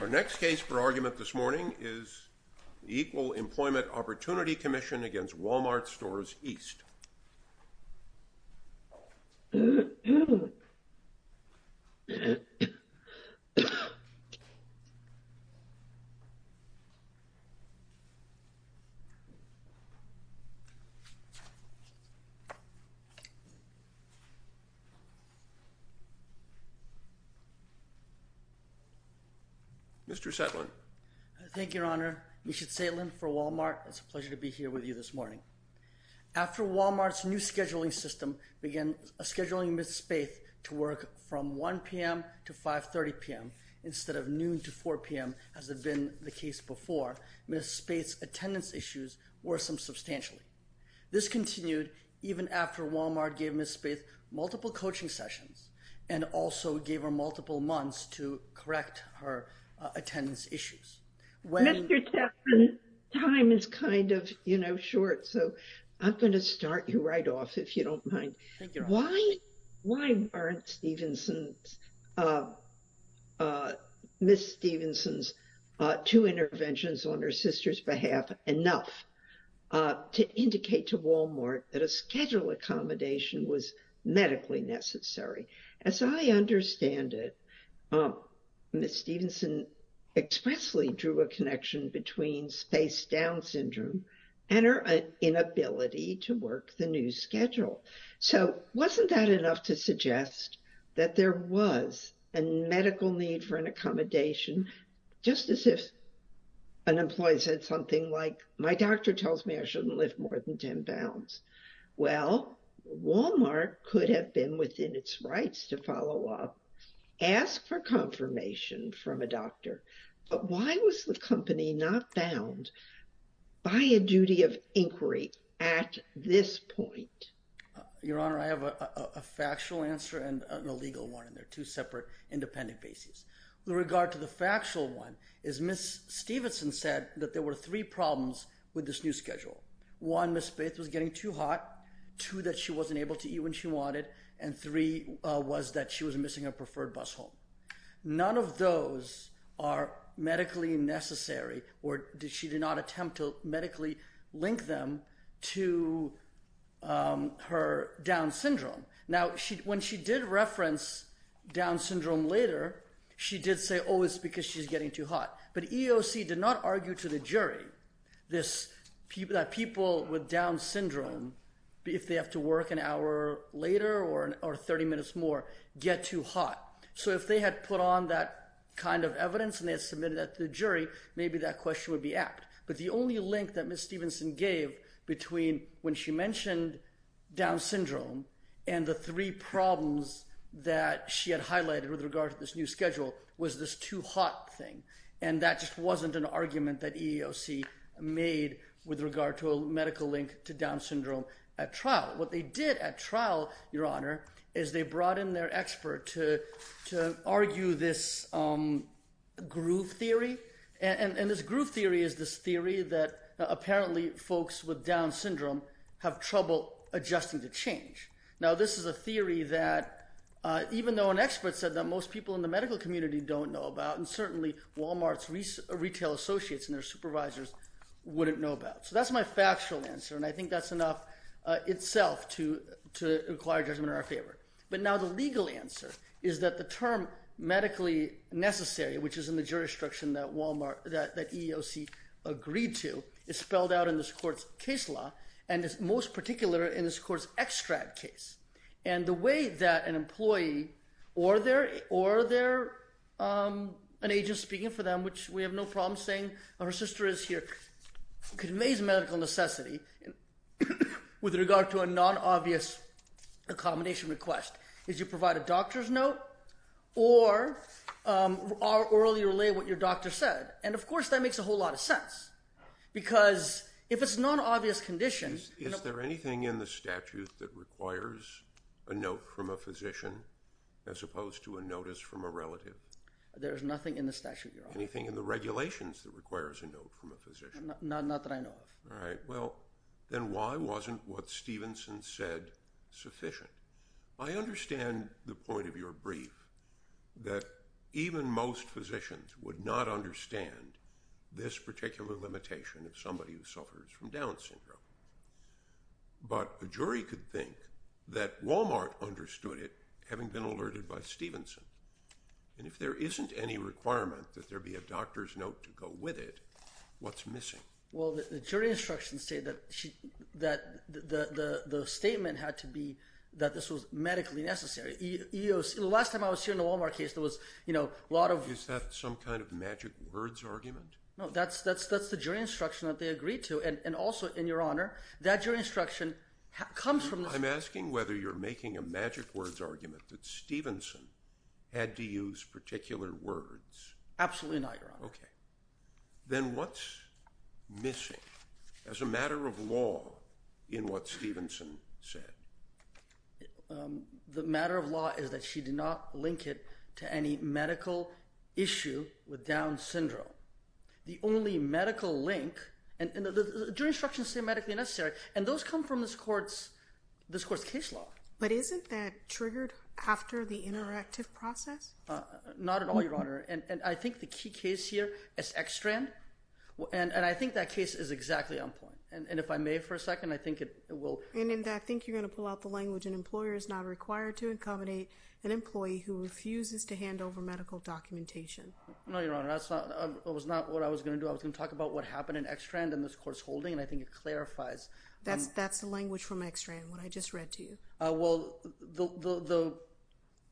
Our next case for argument this morning is the Equal Employment Opportunity Commission v. Wal-Mart Stores East. Mr. Setlin. Thank you, Your Honor. Misha Setlin for Wal-Mart. It's a pleasure to be here with you this morning. After Wal-Mart's new scheduling system began scheduling Ms. Spaeth to work from 1 p.m. to 5.30 p.m. instead of noon to 4 p.m. as had been the case before, Ms. Spaeth's attendance issues worsened substantially. This continued even after Wal-Mart gave Ms. Spaeth multiple coaching sessions and also gave her multiple months to correct her attendance issues. Mr. Setlin, time is kind of, you know, short, so I'm going to start you right off if you don't mind. Thank you, Your Honor. Why aren't Stephenson's, Ms. Stephenson's two interventions on her sister's behalf enough to indicate to Wal-Mart that a schedule accommodation was medically necessary? As I understand it, Ms. Stephenson expressly drew a connection between Spaeth's Down syndrome and her inability to work the new schedule. So wasn't that enough to suggest that there was a medical need for an accommodation? Just as if an employee said something like, my doctor tells me I shouldn't lift more than 10 pounds. Well, Wal-Mart could have been within its rights to follow up, ask for confirmation from a doctor. But why was the company not bound by a duty of inquiry at this point? Your Honor, I have a factual answer and an illegal one, and they're two separate independent bases. With regard to the factual one, Ms. Stephenson said that there were three problems with this new schedule. One, Ms. Spaeth was getting too hot. Two, that she wasn't able to eat when she wanted. And three was that she was missing her preferred bus home. None of those are medically necessary, or she did not attempt to medically link them to her Down syndrome. Now, when she did reference Down syndrome later, she did say, oh, it's because she's getting too hot. But EEOC did not argue to the jury that people with Down syndrome, if they have to work an hour later or 30 minutes more, get too hot. So if they had put on that kind of evidence and they had submitted that to the jury, maybe that question would be apt. But the only link that Ms. Stephenson gave between when she mentioned Down syndrome and the three problems that she had highlighted with regard to this new schedule was this too hot thing. And that just wasn't an argument that EEOC made with regard to a medical link to Down syndrome at trial. What they did at trial, Your Honor, is they brought in their expert to argue this groove theory. And this groove theory is this theory that apparently folks with Down syndrome have trouble adjusting to change. Now, this is a theory that even though an expert said that most people in the medical community don't know about, and certainly Walmart's retail associates and their supervisors wouldn't know about. So that's my factual answer, and I think that's enough itself to require judgment in our favor. But now the legal answer is that the term medically necessary, which is in the jurisdiction that EEOC agreed to, is spelled out in this court's case law, and it's most particular in this court's extract case. And the way that an employee or an agent speaking for them, which we have no problem saying her sister is here, conveys medical necessity with regard to a non-obvious accommodation request is you provide a doctor's note or orally relay what your doctor said. And, of course, that makes a whole lot of sense because if it's a non-obvious condition... Now, is there anything in the statute that requires a note from a physician as opposed to a notice from a relative? There is nothing in the statute, Your Honor. Anything in the regulations that requires a note from a physician? Not that I know of. All right. Well, then why wasn't what Stevenson said sufficient? I understand the point of your brief, that even most physicians would not understand this particular limitation of somebody who suffers from Down syndrome. But a jury could think that Walmart understood it, having been alerted by Stevenson. And if there isn't any requirement that there be a doctor's note to go with it, what's missing? Well, the jury instructions say that the statement had to be that this was medically necessary. The last time I was here in the Walmart case, there was a lot of... Is that some kind of magic words argument? No, that's the jury instruction that they agreed to. And also, Your Honor, that jury instruction comes from... I'm asking whether you're making a magic words argument that Stevenson had to use particular words. Absolutely not, Your Honor. Okay. Then what's missing as a matter of law in what Stevenson said? The matter of law is that she did not link it to any medical issue with Down syndrome. The only medical link... The jury instructions say medically necessary, and those come from this court's case law. But isn't that triggered after the interactive process? Not at all, Your Honor. And I think the key case here is X-Strand, and I think that case is exactly on point. And if I may for a second, I think it will... And in that, I think you're going to pull out the language, an employer is not required to accommodate an employee who refuses to hand over medical documentation. No, Your Honor, that was not what I was going to do. I was going to talk about what happened in X-Strand and this court's holding, and I think it clarifies. That's the language from X-Strand, what I just read to you. Well,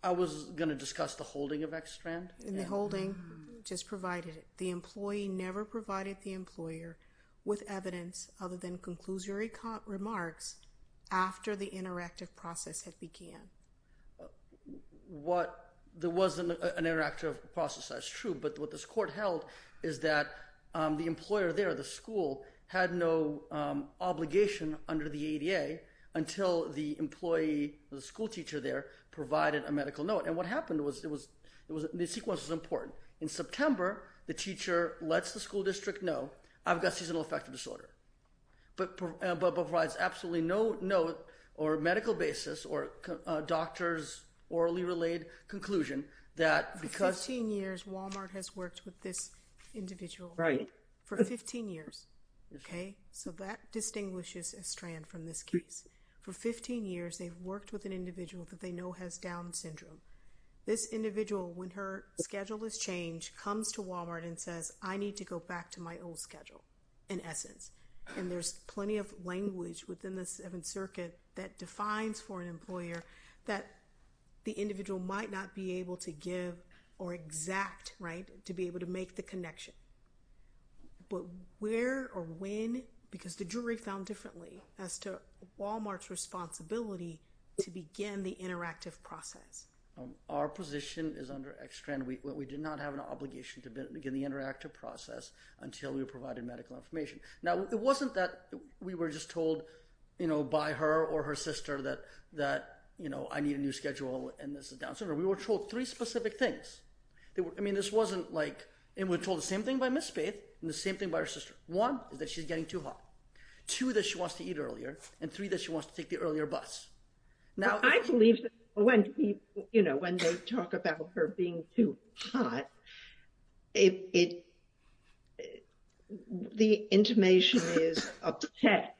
I was going to discuss the holding of X-Strand. And the holding just provided it. The employee never provided the employer with evidence other than conclusory remarks after the interactive process had began. There was an interactive process, that's true, but what this court held is that the employer there, the school, had no obligation under the ADA until the employee, the schoolteacher there, provided a medical note. And what happened was the sequence was important. In September, the teacher lets the school district know, I've got seasonal affective disorder, but provides absolutely no note or medical basis or doctor's orally-related conclusion that because... For 15 years, Walmart has worked with this individual. Right. For 15 years, okay? So that distinguishes X-Strand from this case. For 15 years, they've worked with an individual that they know has Down syndrome. This individual, when her schedule is changed, comes to Walmart and says, I need to go back to my old schedule, in essence. And there's plenty of language within the Seventh Circuit that defines for an employer that the individual might not be able to give or exact, right, to be able to make the connection. But where or when? Because the jury found differently as to Walmart's responsibility to begin the interactive process. Our position is under X-Strand. We did not have an obligation to begin the interactive process until we provided medical information. Now, it wasn't that we were just told, you know, by her or her sister that, you know, I need a new schedule and this is Down syndrome. We were told three specific things. I mean, this wasn't like, and we were told the same thing by Ms. Spaeth and the same thing by her sister. One, that she's getting too hot. Two, that she wants to eat earlier. And three, that she wants to take the earlier bus. I believe that when, you know, when they talk about her being too hot, the intimation is upset.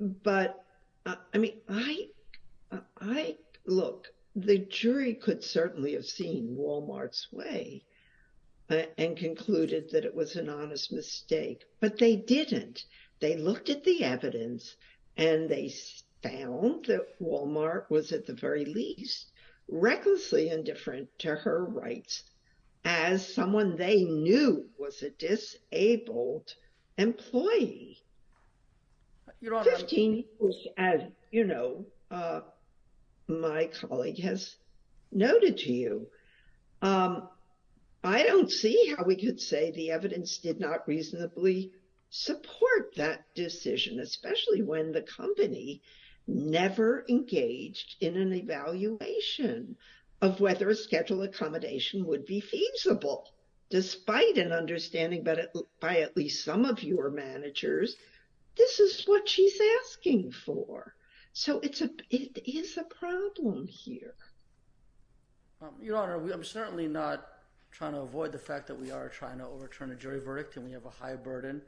But, I mean, I, look, the jury could certainly have seen Walmart's way and concluded that it was an honest mistake, but they didn't. They looked at the evidence and they found that Walmart was at the very least recklessly indifferent to her rights as someone they knew was a disabled employee. Fifteen years as, you know, my colleague has noted to you. I don't see how we could say the evidence did not reasonably support that decision, especially when the company never engaged in an evaluation of whether a scheduled accommodation would be feasible, despite an understanding by at least some of your managers. This is what she's asking for. So it is a problem here. Your Honor, I'm certainly not trying to avoid the fact that we are trying to overturn a jury verdict and we have a high burden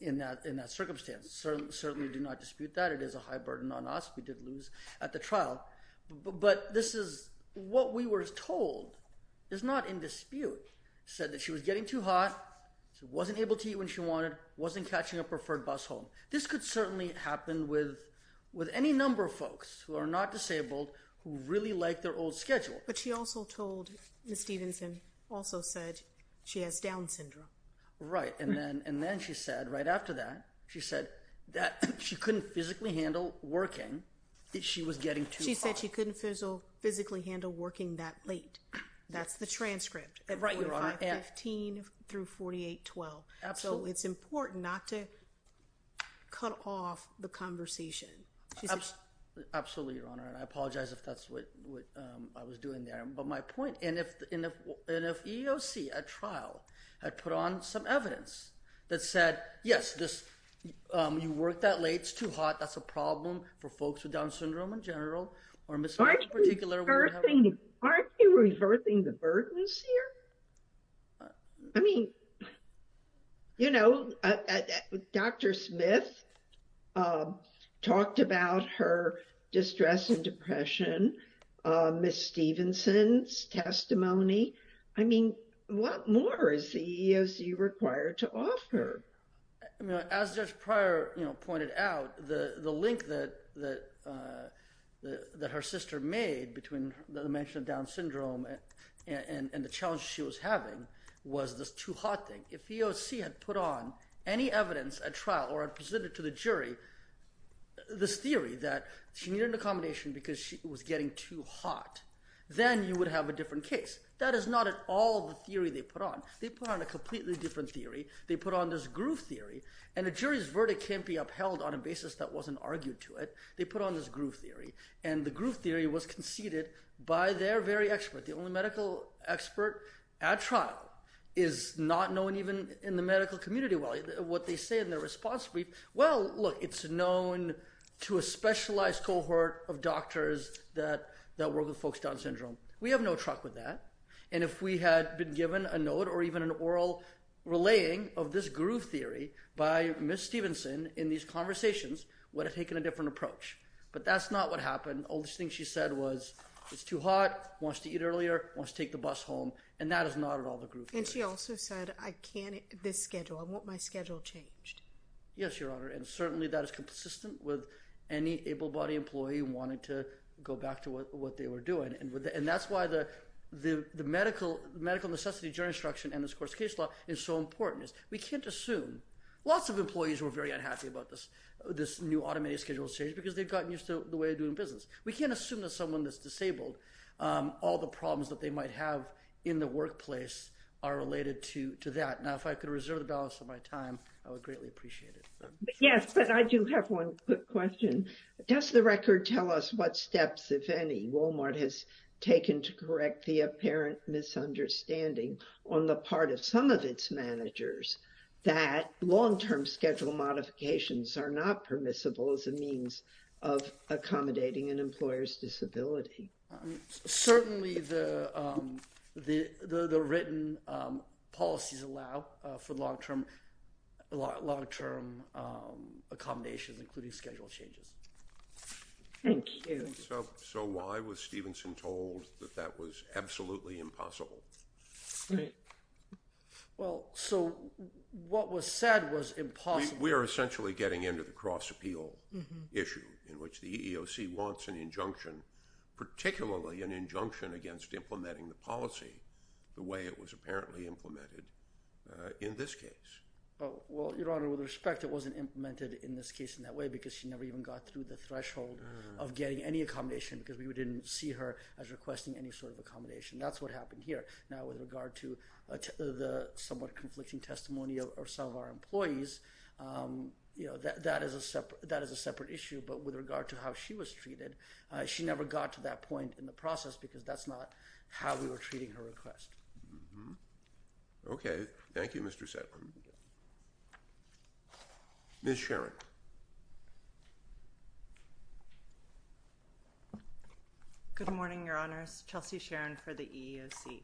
in that circumstance. Certainly do not dispute that. It is a high burden on us. We did lose at the trial. But this is, what we were told is not in dispute. Said that she was getting too hot, wasn't able to eat when she wanted, wasn't catching a preferred bus home. This could certainly happen with any number of folks who are not disabled who really like their old schedule. But she also told, Ms. Stevenson also said she has Down syndrome. Right, and then she said, right after that, she said that she couldn't physically handle working, that she was getting too hot. She said she couldn't physically handle working that late. That's the transcript. Right, Your Honor. At 4515 through 4812. Absolutely. So it's important not to cut off the conversation. Absolutely, Your Honor. And I apologize if that's what I was doing there. But my point, and if EEOC at trial had put on some evidence that said, yes, you work that late, it's too hot. That's a problem for folks with Down syndrome in general. Aren't you reverting the burdens here? I mean, you know, Dr. Smith talked about her distress and depression. Ms. Stevenson's testimony. I mean, what more is the EEOC required to offer? As Judge Pryor pointed out, the link that her sister made between the mention of Down syndrome and the challenge she was having was this too hot thing. If EEOC had put on any evidence at trial or had presented to the jury this theory that she needed an accommodation because she was getting too hot, then you would have a different case. That is not at all the theory they put on. They put on a completely different theory. They put on this groove theory. And a jury's verdict can't be upheld on a basis that wasn't argued to it. They put on this groove theory. And the groove theory was conceded by their very expert. The only medical expert at trial is not known even in the medical community. What they say in their response brief, well, look, it's known to a specialized cohort of doctors that work with folks down syndrome. We have no truck with that. And if we had been given a note or even an oral relaying of this groove theory by Ms. Stevenson in these conversations, we would have taken a different approach. But that's not what happened. All the things she said was it's too hot, wants to eat earlier, wants to take the bus home. And that is not at all the groove theory. And she also said I can't at this schedule. I want my schedule changed. Yes, Your Honor, and certainly that is consistent with any able-bodied employee wanting to go back to what they were doing. And that's why the medical necessity jury instruction and this court's case law is so important. We can't assume. Lots of employees were very unhappy about this new automated schedule change because they've gotten used to the way of doing business. We can't assume that someone that's disabled, all the problems that they might have in the workplace are related to that. Now, if I could reserve the balance of my time, I would greatly appreciate it. Yes, but I do have one quick question. Does the record tell us what steps, if any, Walmart has taken to correct the apparent misunderstanding on the part of some of its managers that long-term schedule modifications are not permissible as a means of accommodating an employer's disability? Certainly the written policies allow for long-term accommodations, including schedule changes. Thank you. So why was Stevenson told that that was absolutely impossible? Well, so what was said was impossible. We are essentially getting into the cross-appeal issue in which the EEOC wants an injunction, particularly an injunction against implementing the policy the way it was apparently implemented in this case. Well, Your Honor, with respect, it wasn't implemented in this case in that way because she never even got through the threshold of getting any accommodation because we didn't see her as requesting any sort of accommodation. That's what happened here. Now, with regard to the somewhat conflicting testimony of some of our employees, that is a separate issue. But with regard to how she was treated, she never got to that point in the process because that's not how we were treating her request. Okay. Thank you, Mr. Setlin. Ms. Shetland. Good morning, Your Honors. Chelsea Shetland for the EEOC.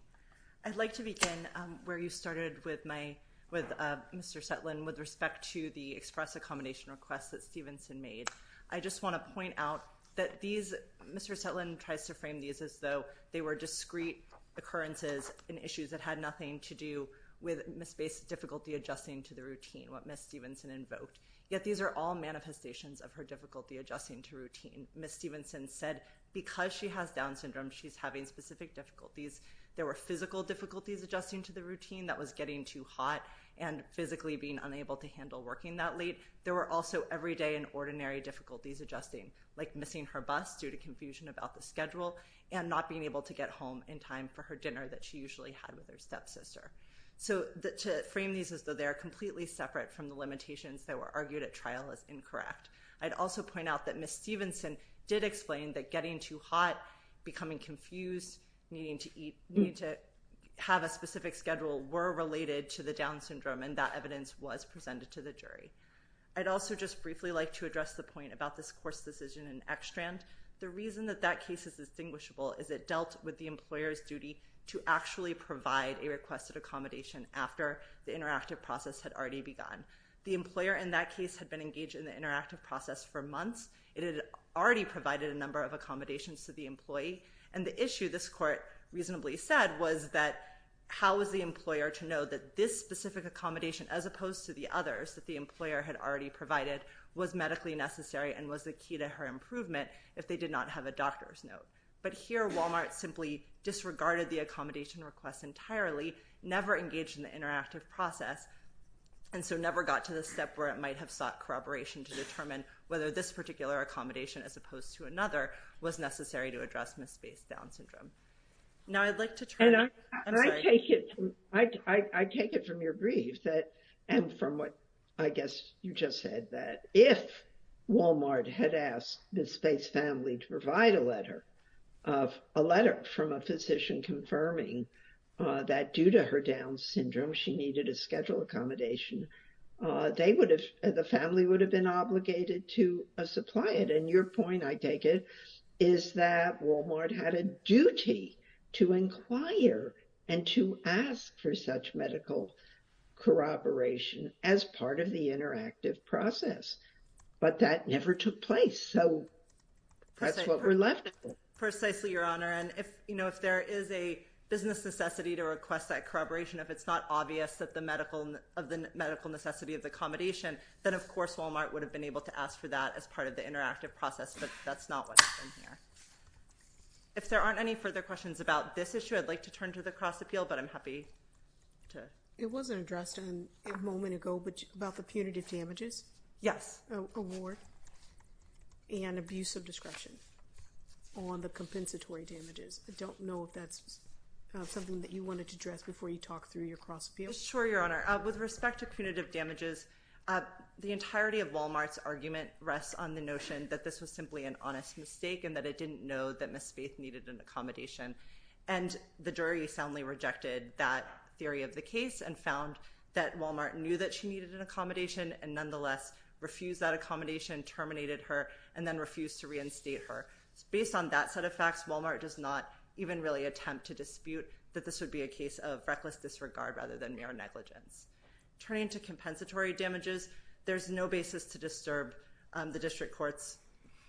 I'd like to begin where you started with Mr. Setlin with respect to the express accommodation request that Stevenson made. I just want to point out that Mr. Setlin tries to frame these as though they were discrete occurrences and issues that had nothing to do with Ms. Bates' difficulty adjusting to the routine, what Ms. Stevenson invoked. Yet these are all manifestations of her difficulty adjusting to routine. Ms. Stevenson said because she has Down syndrome, she's having specific difficulties. There were physical difficulties adjusting to the routine that was getting too hot and physically being unable to handle working that late. There were also everyday and ordinary difficulties adjusting, like missing her bus due to confusion about the schedule and not being able to get home in time for her dinner that she usually had with her stepsister. So to frame these as though they are completely separate from the limitations that were argued at trial as incorrect. I'd also point out that Ms. Stevenson did explain that getting too hot, becoming confused, needing to have a specific schedule were related to the Down syndrome, and that evidence was presented to the jury. I'd also just briefly like to address the point about this course decision in Ekstrand. The reason that that case is distinguishable is it dealt with the employer's duty to actually provide a requested accommodation after the interactive process had already begun. The employer in that case had been engaged in the interactive process for months. It had already provided a number of accommodations to the employee. And the issue, this court reasonably said, was that how was the employer to know that this specific accommodation, as opposed to the others that the employer had already provided, was medically necessary and was the key to her improvement if they did not have a doctor's note. But here Walmart simply disregarded the accommodation request entirely, never engaged in the interactive process, and so never got to the step where it might have sought corroboration to determine whether this particular accommodation, as opposed to another, was necessary to address Ms. Space's Down syndrome. Now I'd like to turn... I take it from your brief, and from what I guess you just said, that if Walmart had asked the Space family to provide a letter from a physician confirming that due to her Down syndrome she needed a schedule accommodation, the family would have been obligated to supply it. And your point, I take it, is that Walmart had a duty to inquire and to ask for such medical corroboration as part of the interactive process. But that never took place. So that's what we're left with. Precisely, Your Honor. And if there is a business necessity to request that corroboration, if it's not obvious of the medical necessity of the accommodation, then of course Walmart would have been able to ask for that as part of the interactive process, but that's not what's in here. If there aren't any further questions about this issue, I'd like to turn to the cross-appeal, but I'm happy to... It wasn't addressed a moment ago about the punitive damages award and abuse of discretion on the compensatory damages. I don't know if that's something that you wanted to address before you talk through your cross-appeal. Sure, Your Honor. With respect to punitive damages, the entirety of Walmart's argument rests on the notion that this was simply an honest mistake and that it didn't know that Ms. Faith needed an accommodation. And the jury soundly rejected that theory of the case and found that Walmart knew that she needed an accommodation and nonetheless refused that accommodation, terminated her, and then refused to reinstate her. Based on that set of facts, Walmart does not even really attempt to dispute that this would be a case of reckless disregard rather than mere negligence. Turning to compensatory damages, there's no basis to disturb the district court's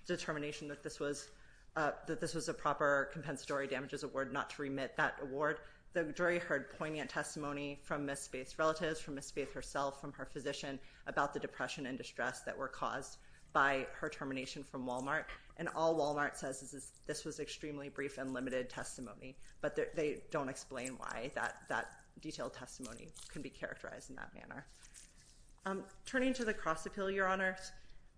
determination that this was a proper compensatory damages award, not to remit that award. The jury heard poignant testimony from Ms. Faith's relatives, from Ms. Faith herself, from her physician, about the depression and distress that were caused by her termination from Walmart, and all Walmart says is this was extremely brief and limited testimony. But they don't explain why that detailed testimony can be characterized in that manner. Turning to the Cross Appeal, Your Honor,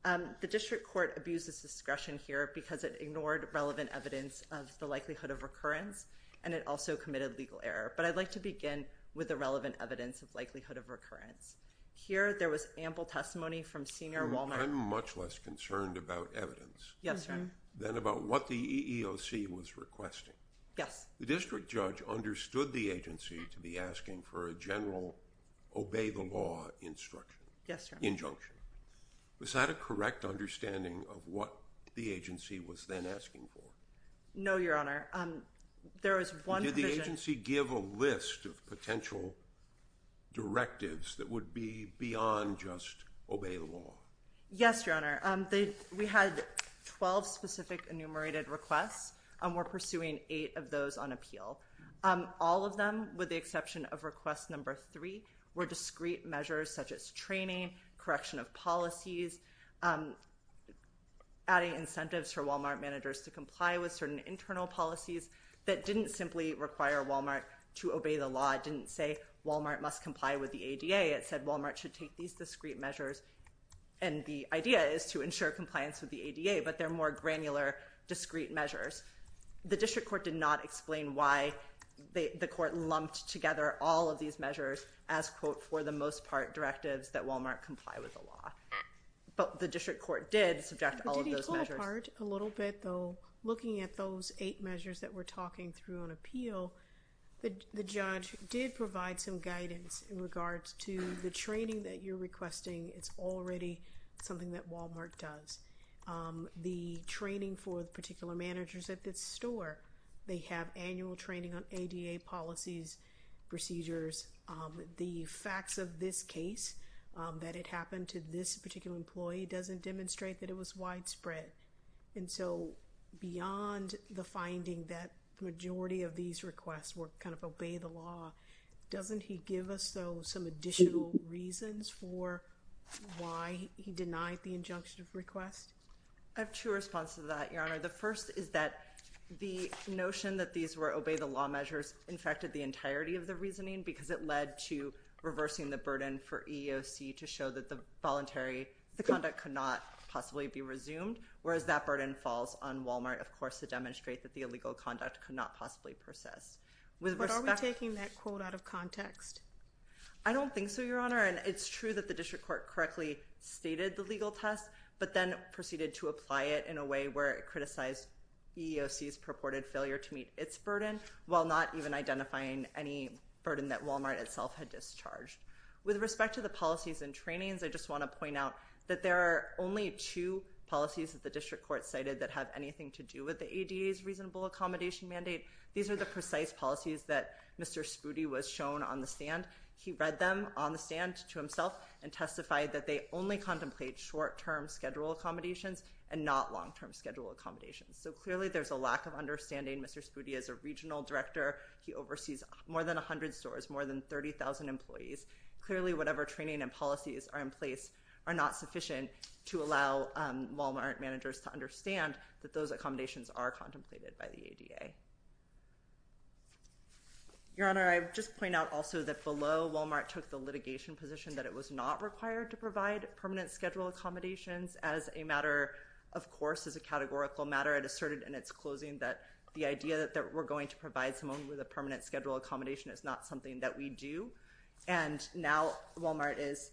the district court abuses discretion here because it ignored relevant evidence of the likelihood of recurrence and it also committed legal error. But I'd like to begin with the relevant evidence of likelihood of recurrence. Here there was ample testimony from senior Walmart... I'm much less concerned about evidence... Yes, sir. ...than about what the EEOC was requesting. Yes. The district judge understood the agency to be asking for a general obey the law instruction. Yes, Your Honor. Injunction. Was that a correct understanding of what the agency was then asking for? No, Your Honor. There was one provision... Did the agency give a list of potential directives that would be beyond just obey the law? Yes, Your Honor. We had 12 specific enumerated requests and we're pursuing eight of those on appeal. All of them, with the exception of request number three, were discrete measures such as training, correction of policies, adding incentives for Walmart managers to comply with certain internal policies that didn't simply require Walmart to obey the law. It didn't say Walmart must comply with the ADA. It said Walmart should take these discrete measures and the idea is to ensure compliance with the ADA, but they're more granular, discrete measures. The district court did not explain why the court lumped together all of these measures as, quote, for the most part directives that Walmart comply with the law. But the district court did subject all of those measures. Did he pull apart a little bit, though, looking at those eight measures that we're talking through on appeal, the judge did provide some guidance in regards to the training that you're requesting it's already something that Walmart does. The training for the particular managers at this store, they have annual training on ADA policies, procedures. The facts of this case, that it happened to this particular employee, doesn't demonstrate that it was widespread. And so beyond the finding that the majority of these requests were kind of obey the law, doesn't he give us, though, some additional reasons for why he denied the injunction of request? I have two responses to that, Your Honor. The first is that the notion that these were obey the law measures infected the entirety of the reasoning because it led to reversing the burden for EEOC to show that the voluntary, the conduct could not possibly be resumed, whereas that burden falls on Walmart, of course, to demonstrate that the illegal conduct could not possibly persist. But are we taking that quote out of context? I don't think so, Your Honor. And it's true that the district court correctly stated the legal test but then proceeded to apply it in a way where it criticized EEOC's purported failure to meet its burden while not even identifying any burden that Walmart itself had discharged. With respect to the policies and trainings, I just want to point out that there are only two policies that the district court cited that have anything to do with the ADA's reasonable accommodation mandate. These are the precise policies that Mr. Spudi was shown on the stand. He read them on the stand to himself and testified that they only contemplate short-term schedule accommodations and not long-term schedule accommodations. So clearly there's a lack of understanding. Mr. Spudi is a regional director. He oversees more than 100 stores, more than 30,000 employees. Clearly whatever training and policies are in place are not sufficient to allow Walmart managers to understand that those accommodations are contemplated by the ADA. Your Honor, I would just point out also that below, Walmart took the litigation position that it was not required to provide permanent schedule accommodations. As a matter of course, as a categorical matter, it asserted in its closing that the idea that we're going to provide someone with a permanent schedule accommodation is not something that we do. And now Walmart is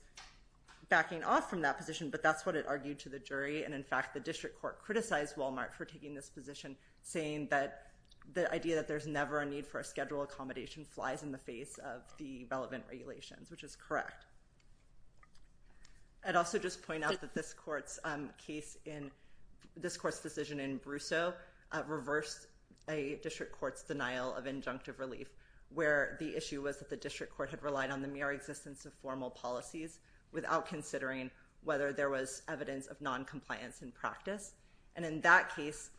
backing off from that position. But that's what it argued to the jury. And in fact, the district court criticized Walmart for taking this position saying that the idea that there's never a need for a schedule accommodation flies in the face of the relevant regulations, which is correct. I'd also just point out that this court's decision in Brussaux reversed a district court's denial of injunctive relief where the issue was that the district court had relied on the mere existence of formal policies without considering whether there was evidence of noncompliance in practice. And in that case,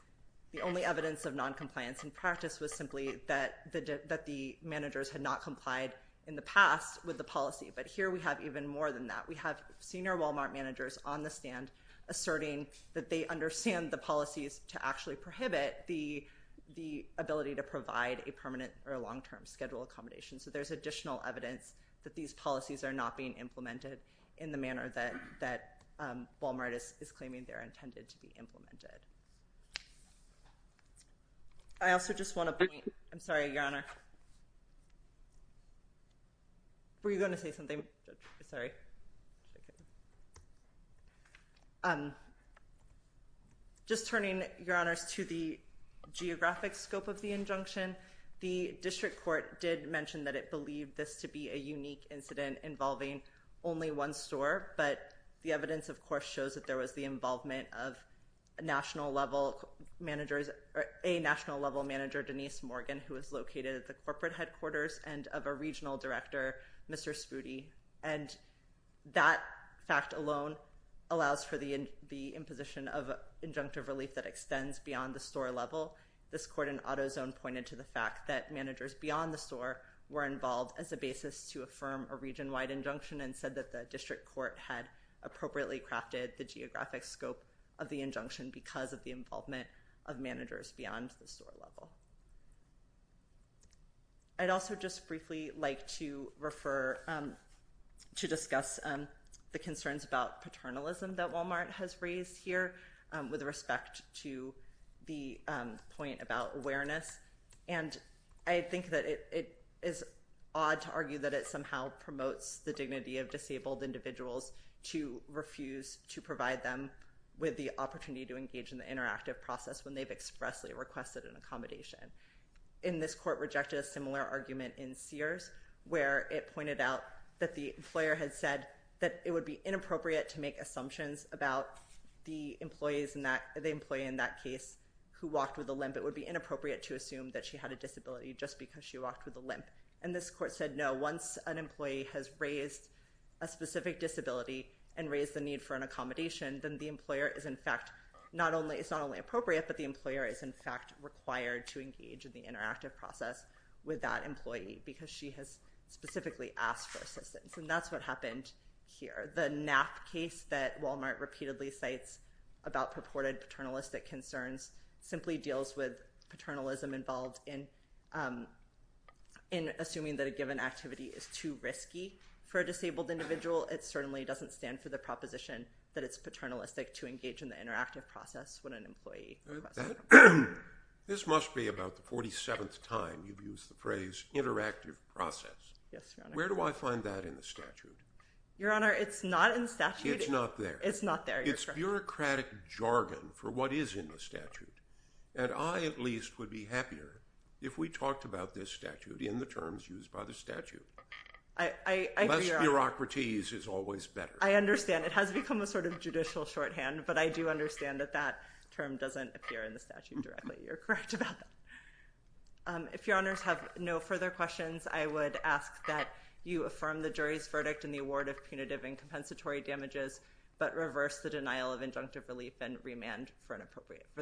the only evidence of noncompliance in practice was simply that the managers had not complied in the past with the policy. But here we have even more than that. We have senior Walmart managers on the stand asserting that they understand the policies to actually prohibit the ability to provide a permanent or a long-term schedule accommodation. So there's additional evidence that these policies are not being implemented in the manner that Walmart is claiming they're intended to be implemented. I also just want to point—I'm sorry, Your Honor. Were you going to say something? Sorry. Just turning, Your Honors, to the geographic scope of the injunction, the district court did mention that it believed this to be a unique incident involving only one store, but the evidence, of course, shows that there was the involvement of national-level managers— a national-level manager, Denise Morgan, who is located at the corporate headquarters and of a regional director, Mr. Spudi. And that fact alone allows for the imposition of injunctive relief that extends beyond the store level. This court in AutoZone pointed to the fact that managers beyond the store were involved as a basis to affirm a region-wide injunction and said that the district court had appropriately crafted the geographic scope of the injunction because of the involvement of managers beyond the store level. I'd also just briefly like to discuss the concerns about paternalism that Walmart has raised here with respect to the point about awareness. And I think that it is odd to argue that it somehow promotes the dignity of disabled individuals to refuse to provide them with the opportunity to engage in the interactive process when they've expressly requested an accommodation. And this court rejected a similar argument in Sears, where it pointed out that the employer had said that it would be inappropriate to make assumptions about the employee in that case who walked with a limp. It would be inappropriate to assume that she had a disability just because she walked with a limp. And this court said, no, once an employee has raised a specific disability and raised the need for an accommodation, then the employer is, in fact, it's not only appropriate, but the employer is, in fact, required to engage in the interactive process with that employee because she has specifically asked for assistance. And that's what happened here. The NAP case that Walmart repeatedly cites about purported paternalistic concerns simply deals with paternalism involved in assuming that a given activity is too risky for a disabled individual. It certainly doesn't stand for the proposition that it's paternalistic to engage in the interactive process when an employee requests an accommodation. This must be about the 47th time you've used the phrase interactive process. Yes, Your Honor. Where do I find that in the statute? Your Honor, it's not in the statute. It's not there. It's not there, Your Honor. It's bureaucratic jargon for what is in the statute. And I, at least, would be happier if we talked about this statute in the terms used by the statute. I agree, Your Honor. Bureaucraties is always better. I understand. It has become a sort of judicial shorthand, but I do understand that that term doesn't appear in the statute directly. You're correct about that. If Your Honors have no further questions, I would ask that you affirm the jury's verdict in the award of punitive and compensatory damages but reverse the denial of injunctive relief and remand for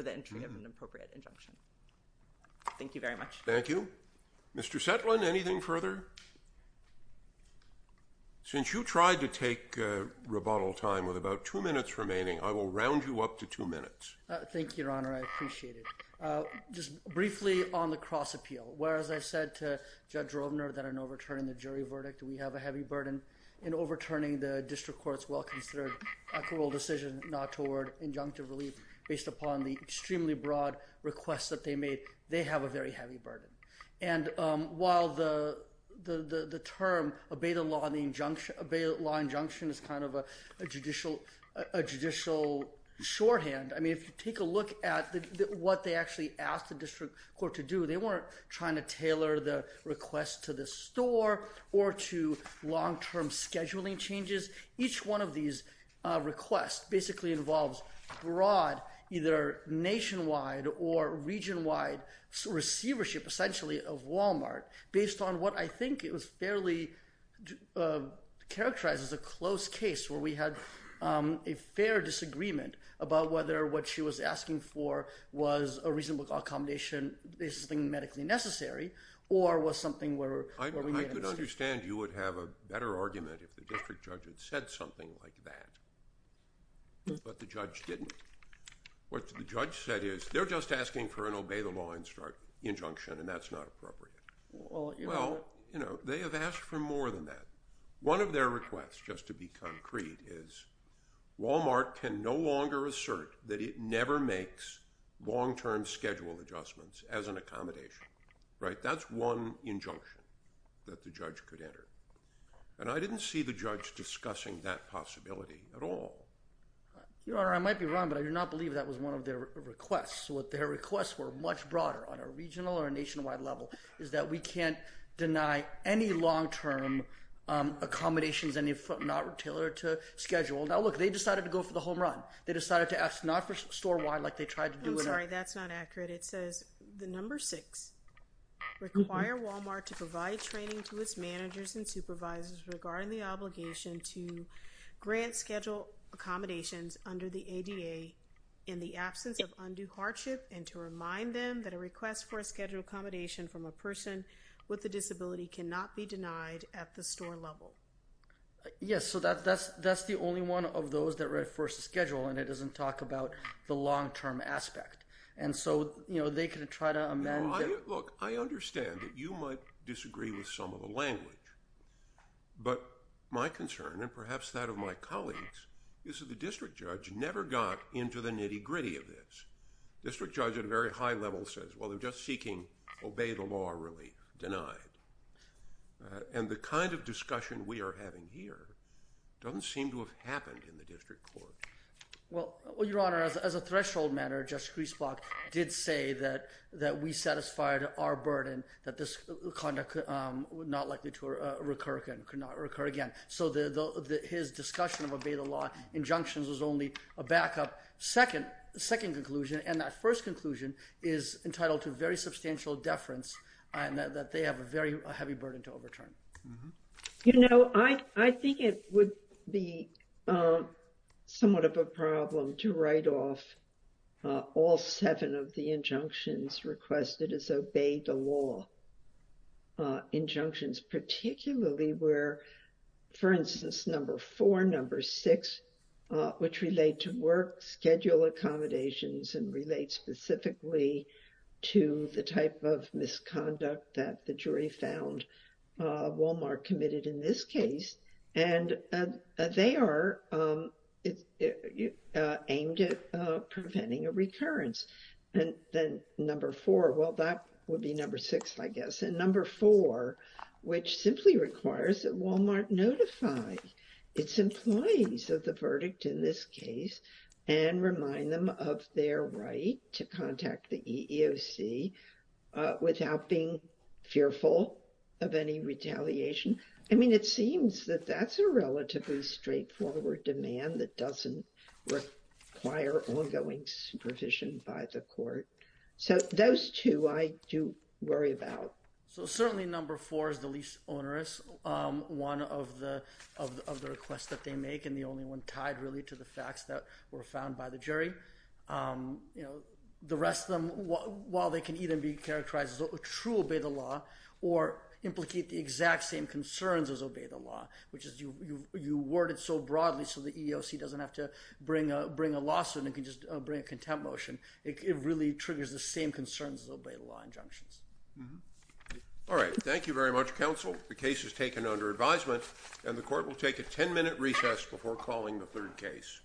the entry of an appropriate injunction. Thank you very much. Thank you. Mr. Setlin, anything further? Since you tried to take rebuttal time with about two minutes remaining, I will round you up to two minutes. Thank you, Your Honor. I appreciate it. Just briefly on the cross appeal, whereas I said to Judge Rovner that in overturning the jury verdict, we have a heavy burden, in overturning the district court's well-considered acquittal decision not toward injunctive relief, based upon the extremely broad request that they made, they have a very heavy burden. And while the term obey the law injunction is kind of a judicial shorthand, I mean if you take a look at what they actually asked the district court to do, they weren't trying to tailor the request to the store or to long-term scheduling changes. Each one of these requests basically involves broad, either nationwide or regionwide receivership essentially of Walmart, based on what I think it was fairly characterized as a close case where we had a fair disagreement about whether what she was asking for was a reasonable accommodation, basically medically necessary, or was something where we made a mistake. I understand you would have a better argument if the district judge had said something like that, but the judge didn't. What the judge said is they're just asking for an obey the law injunction, and that's not appropriate. Well, they have asked for more than that. One of their requests, just to be concrete, is Walmart can no longer assert that it never makes long-term schedule adjustments as an accommodation. That's one injunction that the judge could enter, and I didn't see the judge discussing that possibility at all. Your Honor, I might be wrong, but I do not believe that was one of their requests. What their requests were, much broader, on a regional or a nationwide level, is that we can't deny any long-term accommodations if not tailored to schedule. Now look, they decided to go for the home run. They decided to ask not for store-wide like they tried to do. I'm sorry, that's not accurate. It says the number six, require Walmart to provide training to its managers and supervisors regarding the obligation to grant schedule accommodations under the ADA in the absence of undue hardship and to remind them that a request for a schedule accommodation from a person with a disability cannot be denied at the store level. Yes, so that's the only one of those that read first schedule, and it doesn't talk about the long-term aspect. And so, you know, they can try to amend that. Look, I understand that you might disagree with some of the language, but my concern, and perhaps that of my colleagues, is that the district judge never got into the nitty-gritty of this. District judge at a very high level says, well, they're just seeking obey the law relief, denied. And the kind of discussion we are having here doesn't seem to have happened in the district court. Well, Your Honor, as a threshold matter, Justice Griesbach did say that we satisfied our burden, that this conduct was not likely to recur again. So his discussion of obey the law injunctions was only a backup second conclusion, and that first conclusion is entitled to very substantial deference and that they have a very heavy burden to overturn. You know, I think it would be somewhat of a problem to write off all seven of the injunctions requested as obey the law injunctions, particularly where, for instance, number four, number six, which relate to work schedule accommodations and relate specifically to the type of misconduct that the jury found Walmart committed in this case. And they are aimed at preventing a recurrence. And then number four, well, that would be number six, I guess. And number four, which simply requires that Walmart notify its employees of the verdict in this case and remind them of their right to contact the EEOC without being fearful of any retaliation. I mean, it seems that that's a relatively straightforward demand that doesn't require ongoing supervision by the court. So those two I do worry about. So certainly number four is the least onerous one of the requests that they make and the only one tied really to the facts that were found by the jury. The rest of them, while they can either be characterized as a true obey the law or implicate the exact same concerns as obey the law, which is you word it so broadly so the EEOC doesn't have to bring a lawsuit and can just bring a contempt motion, it really triggers the same concerns as obey the law injunctions. All right. Thank you very much, counsel. The case is taken under advisement, and the court will take a ten-minute recess before calling the third case.